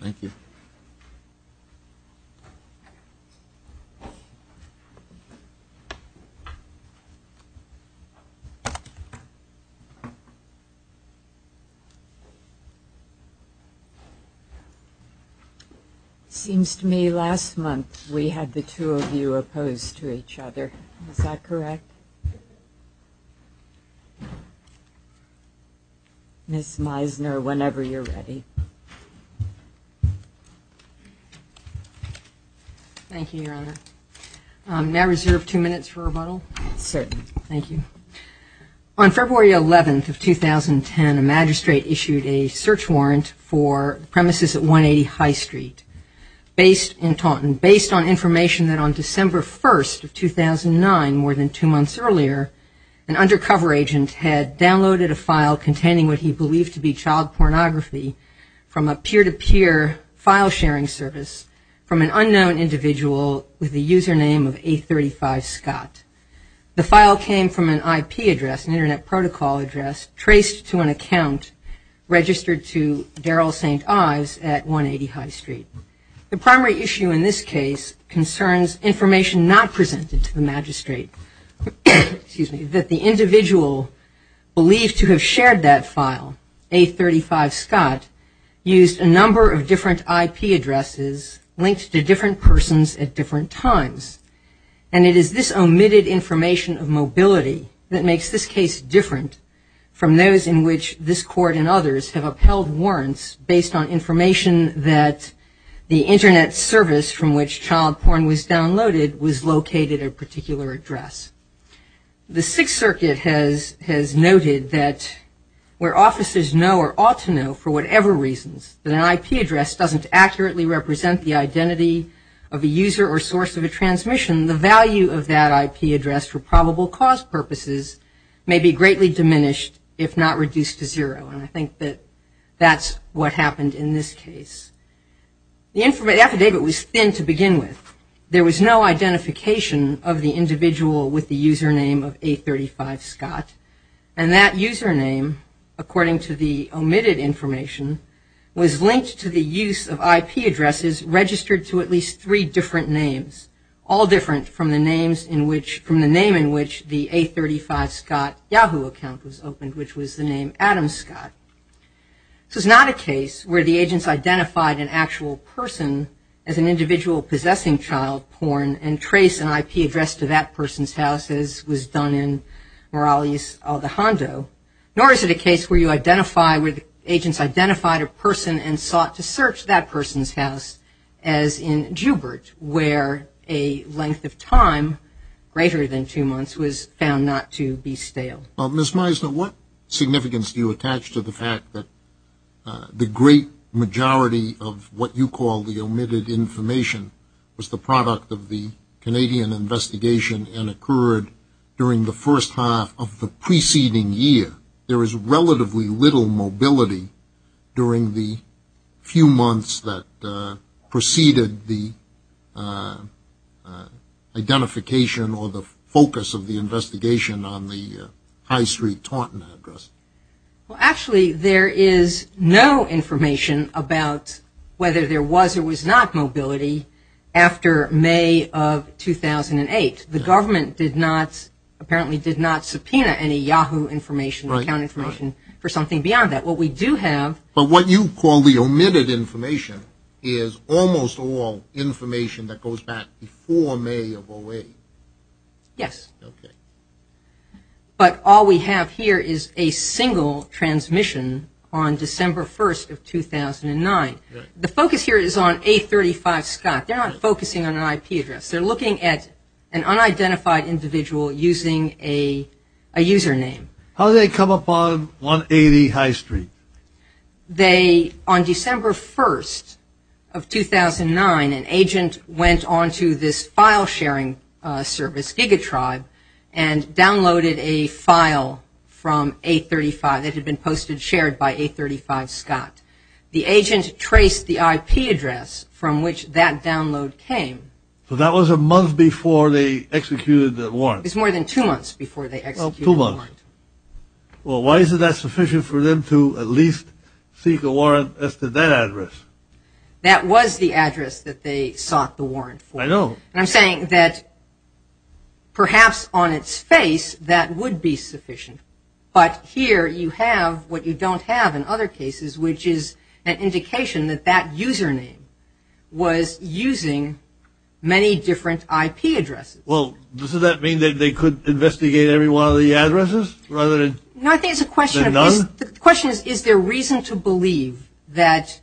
Thank you. It seems to me last month we had the two of you opposed to each other, is that correct? Ms. Meisner, whenever you're ready. Thank you, Your Honor. May I reserve two minutes for rebuttal? Certainly. Thank you. On February 11th of 2010, a magistrate issued a search warrant for premises at 180 High Street based in Taunton, based on information that on December 1st of 2009, more than two months earlier, an undercover agent had downloaded a file containing what he believed to be child pornography from a peer-to-peer file sharing service from an unknown individual with the username of A35 Scott. The file came from an IP address, an internet protocol address, traced to an account registered to Daryl St. Ives at 180 High Street. The primary issue in this case concerns information not presented to the magistrate, that the individual believed to have shared that file, A35 Scott, used a number of different IP addresses linked to different persons at different times. And it is this omitted information of mobility that makes this case different from those in which this Court and others have upheld warrants based on information that the internet service from which child porn was downloaded was located at a particular address. The Sixth Circuit has noted that where officers know or ought to know for whatever reasons that an IP address doesn't accurately represent the identity of a user or source of a transmission, the value of that IP address for probable cause purposes may be greatly diminished if not reduced to zero, and I think that that's what happened in this case. The affidavit was thin to begin with. There was no identification of the individual with the username of A35 Scott, and that username, according to the omitted information, was linked to the use of IP addresses registered to at least three different names, all different from the name in which the A35 Scott Yahoo account was opened, which was the name Adam Scott. This was not a case where the agents identified an actual person as an individual possessing child porn and traced an IP address to that person's house, as was done in Morales-Aldejando, nor is it a case where you identify where the agents identified a person and sought to search that person's house as in Joubert, where a length of time greater than two months was found not to be stale. Ms. Meisner, what significance do you attach to the fact that the great majority of what you call the omitted information was the product of the Canadian investigation and occurred during the first half of the preceding year? There was relatively little mobility during the few months that preceded the identification or the focus of the investigation on the High Street Taunton address. Well, actually, there is no information about whether there was or was not mobility after May of 2008. The government did not, apparently did not, subpoena any Yahoo information or account information for something beyond that. What we do have... But what you call the omitted information is almost all information that goes back before May of 2008. Yes. But all we have here is a single transmission on December 1st of 2009. The focus here is on A35 Scott. They're not focusing on an IP address. They're looking at an unidentified individual using a username. How did they come upon 180 High Street? They, on December 1st of 2009, an agent went on to this file sharing service, GigaTribe, and downloaded a file from A35 that had been posted and shared by A35 Scott. The agent traced the IP address from which that download came. So that was a month before they executed the warrant? It was more than two months before they executed the warrant. Two months. Well, why is it that sufficient for them to at least seek a warrant as to that address? That was the address that they sought the warrant for. I know. And I'm saying that perhaps on its face that would be sufficient. But here you have what you don't have in other cases, which is an indication that that username was using many different IP addresses. Well, does that mean that they could investigate every one of the addresses rather than none? No, I think the question is, is there reason to believe that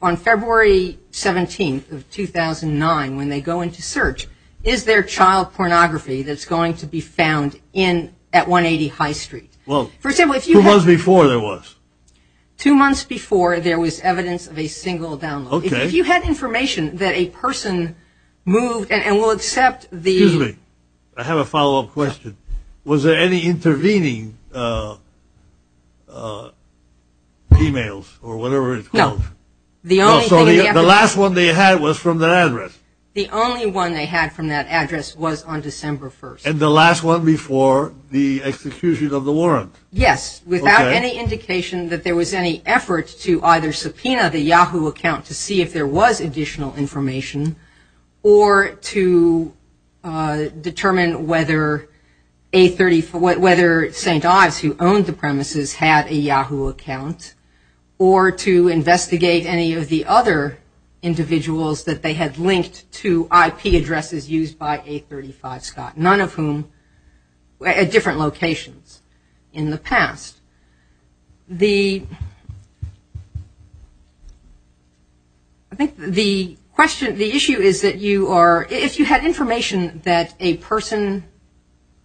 on February 17th of 2009, when they go into search, is there child pornography that's going to be found at 180 High Street? Well, two months before there was. Two months before there was evidence of a single download. If you had information that a person moved, and we'll accept the... Excuse me. I have a follow-up question. Was there any intervening emails or whatever it's called? No. The only thing... No, so the last one they had was from that address? The only one they had from that address was on December 1st. And the last one before the execution of the warrant? Yes, without any indication that there was any effort to either subpoena the Yahoo account to see if there was additional information, or to determine whether St. Ives, who owned the premises, had a Yahoo account, or to investigate any of the other individuals that they had linked to IP addresses used by A35 Scott, none of whom were at different locations in the past. I think the question, the issue is that you are, if you had information that a person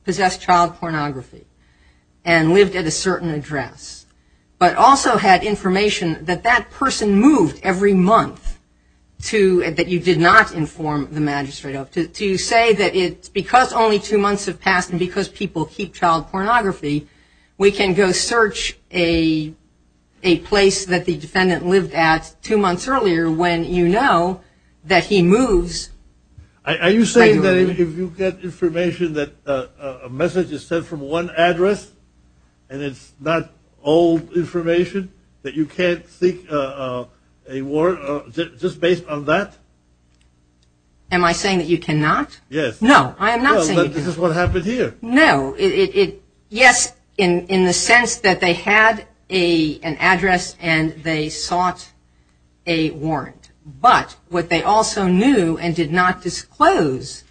possessed child pornography and lived at a certain address, but also had information that that person moved every month to, that you did not inform the magistrate of, to say that it's because only two months have passed and because people keep child pornography, we can go search a place that the defendant lived at two months earlier when you know that he moves... Are you saying that if you get information that a message is sent from one address and it's not old information, that you can't seek a warrant just based on that? Am I saying that you cannot? Yes. No, I am not saying that. Well, this is what happened here. No, it, yes, in the sense that they had an address and they sought a warrant, but what they also knew and did not disclose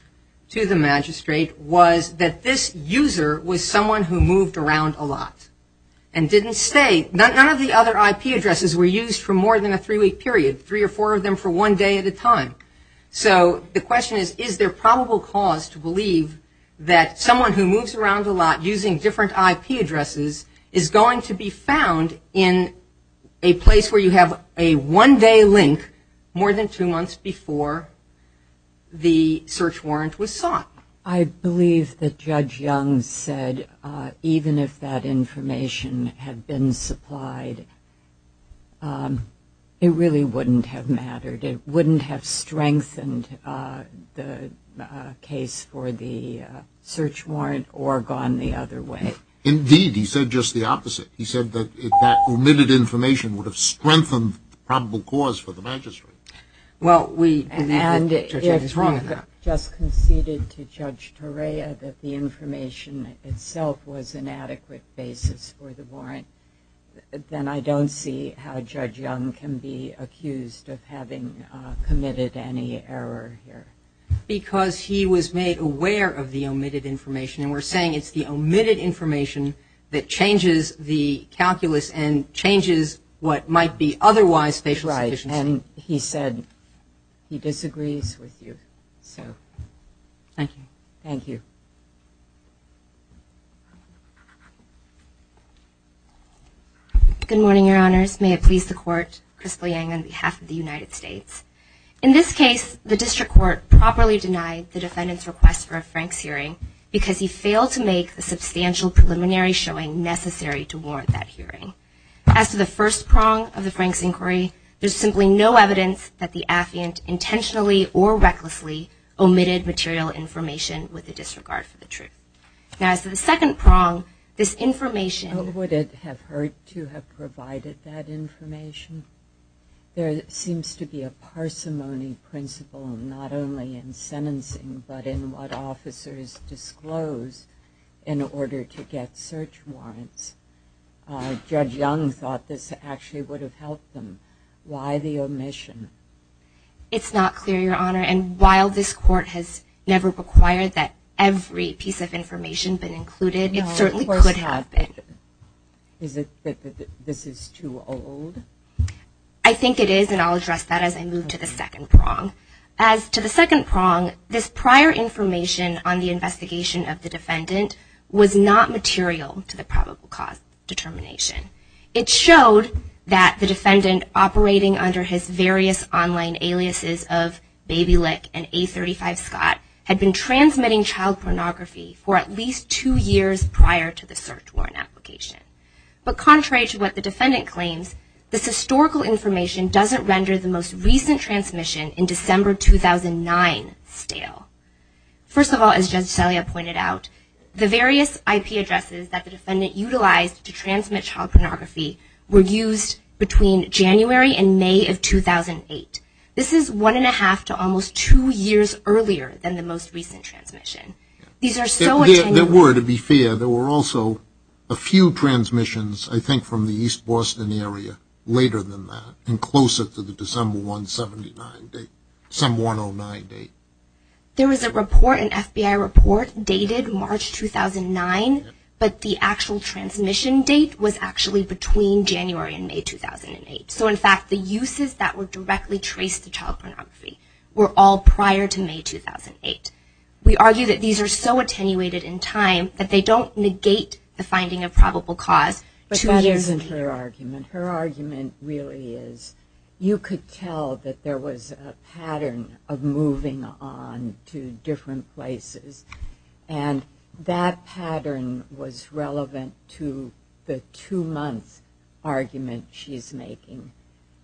to the magistrate was that this user was someone who moved around a lot and didn't stay, none of the other IP addresses were used for more than a three week period, three or four of them for one day at a time. So the question is, is there probable cause to believe that someone who moves around a lot using different IP addresses is going to be found in a place where you have a one day link more than two months before the search warrant was sought? I believe that Judge Young said even if that information had been supplied, it really wouldn't have mattered, it wouldn't have strengthened the case for the search warrant or gone the other way. Indeed, he said just the opposite. He said that that omitted information would have strengthened the probable cause for the magistrate. Well we, and if we had just conceded to Judge Torea that the information itself was an adequate basis for the warrant, then I don't see how Judge Young can be accused of having committed any error here. Because he was made aware of the omitted information, and we're saying it's the omitted information that changes the calculus and changes what might be otherwise facial sufficiency. Right, and he said he disagrees with you, so thank you. Good morning, Your Honors. May it please the Court, Chris Boyang, on behalf of the United States. In this case, the District Court properly denied the defendant's request for a Franks hearing because he failed to make the substantial preliminary showing necessary to warrant that hearing. As to the first prong of the Franks inquiry, there's simply no evidence that the affiant intentionally or recklessly omitted material information with a disregard for the truth. Now as to the second prong, this information... Would it have hurt to have provided that information? There seems to be a parsimony principle, not only in sentencing, but in what officers disclose in order to get search warrants. Judge Young thought this actually would have helped them. Why the omission? It's not clear, Your Honor, and while this Court has never required that every piece of information been included, it certainly could have been. Is it that this is too old? I think it is, and I'll address that as I move to the second prong. As to the second prong, this prior information on the investigation of the defendant was not material to the probable cause determination. It showed that the defendant, operating under his various online aliases of Baby Lick and A35 Scott, had been transmitting child pornography for at least two years prior to the search warrant application. But contrary to what the defendant claims, this historical information doesn't render the most recent transmission in December 2009 stale. First of all, as Judge Celia pointed out, the various IP addresses that the defendant utilized to transmit child pornography were used between January and May of 2008. This is one and a half to almost two years earlier than the most recent transmission. These are so attenuated. There were, to be fair. There were also a few transmissions, I think, from the East Boston area later than that, and closer to the December 179 date, some 109 date. There was a report, an FBI report, dated March 2009, but the actual transmission date was actually between January and May 2008. So, in fact, the uses that were directly traced to child pornography were all prior to May 2008. We argue that these are so attenuated in time that they don't negate the finding of probable cause, but two years later. But that isn't her argument. Her argument really is, you could tell that there was a movement on to different places, and that pattern was relevant to the two-month argument she's making,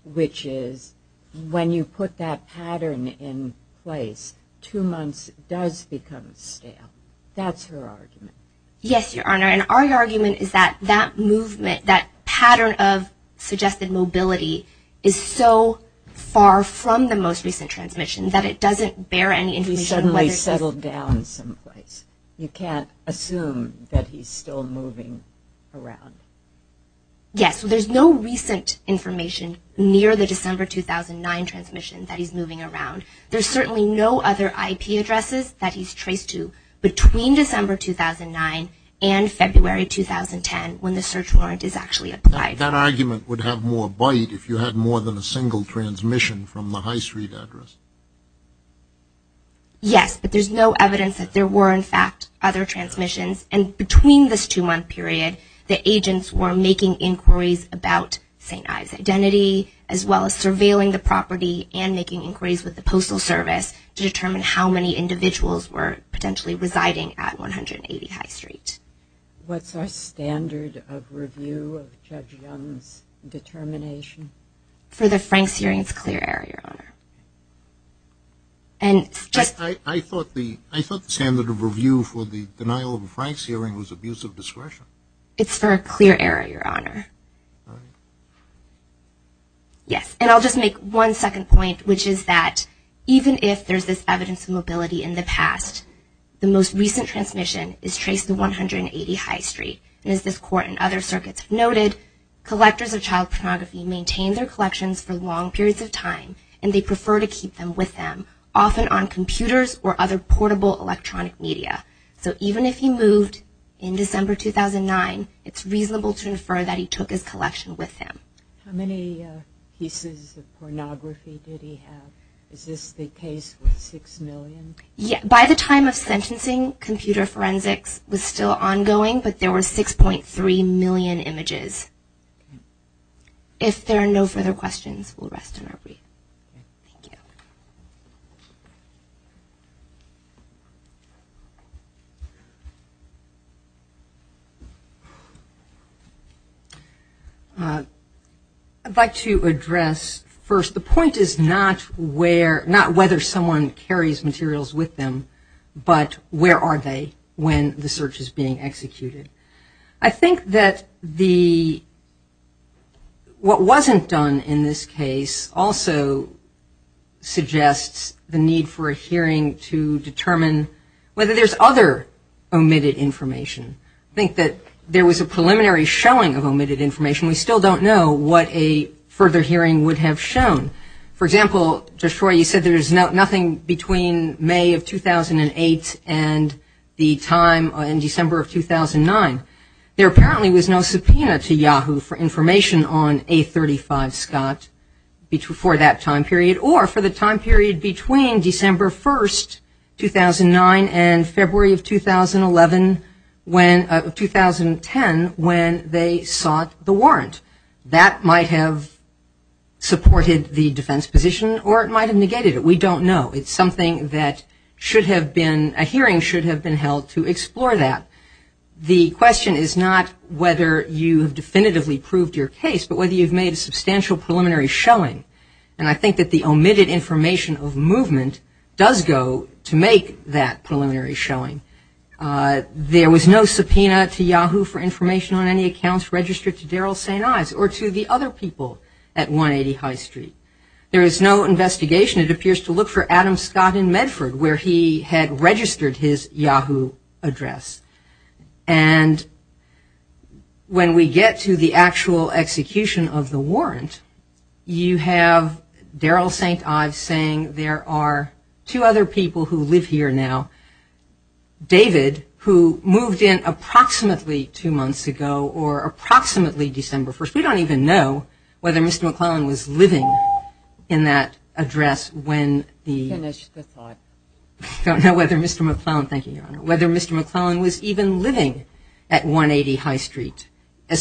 which is, when you put that pattern in place, two months does become stale. That's her argument. Yes, Your Honor, and our argument is that that movement, that pattern of suggested mobility is so far from the most recent transmission that it doesn't bear any information whether it's... He suddenly settled down someplace. You can't assume that he's still moving around. Yes, so there's no recent information near the December 2009 transmission that he's moving around. There's certainly no other IP addresses that he's traced to between December 2009 and February 2010, when the search warrant is actually applied. That argument would have more bite if you had more than a single transmission from the High Street address. Yes, but there's no evidence that there were, in fact, other transmissions, and between this two-month period, the agents were making inquiries about St. Ives' identity, as well as surveilling the property and making inquiries with the Postal Service to determine how many individuals were potentially residing at 180 High Street. What's our standard of review of Judge Young's determination? For the Franks' hearing, it's clear error, Your Honor. And I thought the standard of review for the denial of a Franks' hearing was abuse of discretion. It's for a clear error, Your Honor, yes, and I'll just make one second point, which is that even if there's this evidence of mobility in the past, the most recent transmission is traced to 180 High Street, and as this Court and other circuits have noted, collectors of child pornography maintain their collections for long periods of time, and they prefer to keep them with them, often on computers or other portable electronic media. So even if he moved in December 2009, it's reasonable to infer that he took his collection with him. How many pieces of pornography did he have? Is this the case with six million? By the time of sentencing, computer forensics was still ongoing, but there were 6.3 million images. If there are no further questions, we'll rest in our brief. Thank you. I'd like to address first, the point is not whether someone carries materials with them, but where are they when the search is being executed. I think that what wasn't done in this case also suggests the need for a hearing to determine whether there's other omitted information. I think that there was a preliminary showing of omitted information. We still don't know what a further hearing would have shown. For example, Judge Roy, you said there's nothing between May of 2008 and the time in December of 2009. There apparently was no subpoena to Yahoo for information on A35 Scott for that time period or for the time period between December 1st, 2009 and February of 2010 when they sought the warrant. That might have supported the defense position or it might have negated it. We don't know. It's something that should have been, a hearing should have been held to explore that. The question is not whether you have definitively proved your case, but whether you've made a substantial preliminary showing. I think that the omitted information of movement does go to make that preliminary showing. There was no subpoena to Yahoo for information on any accounts registered to Daryl St. Ives or to the other people at 180 High Street. There is no investigation. It appears to look for Adam Scott in Medford where he had registered his Yahoo address. When we get to the actual execution of the warrant, you have Daryl St. Ives saying there are two other people who live here now, David who moved in approximately two months ago or approximately December 1st. We don't even know whether Mr. McClellan was even living at 180 High Street,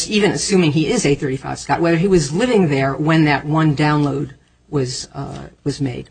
even assuming he is 835 Scott, whether he was living there when that one download was made.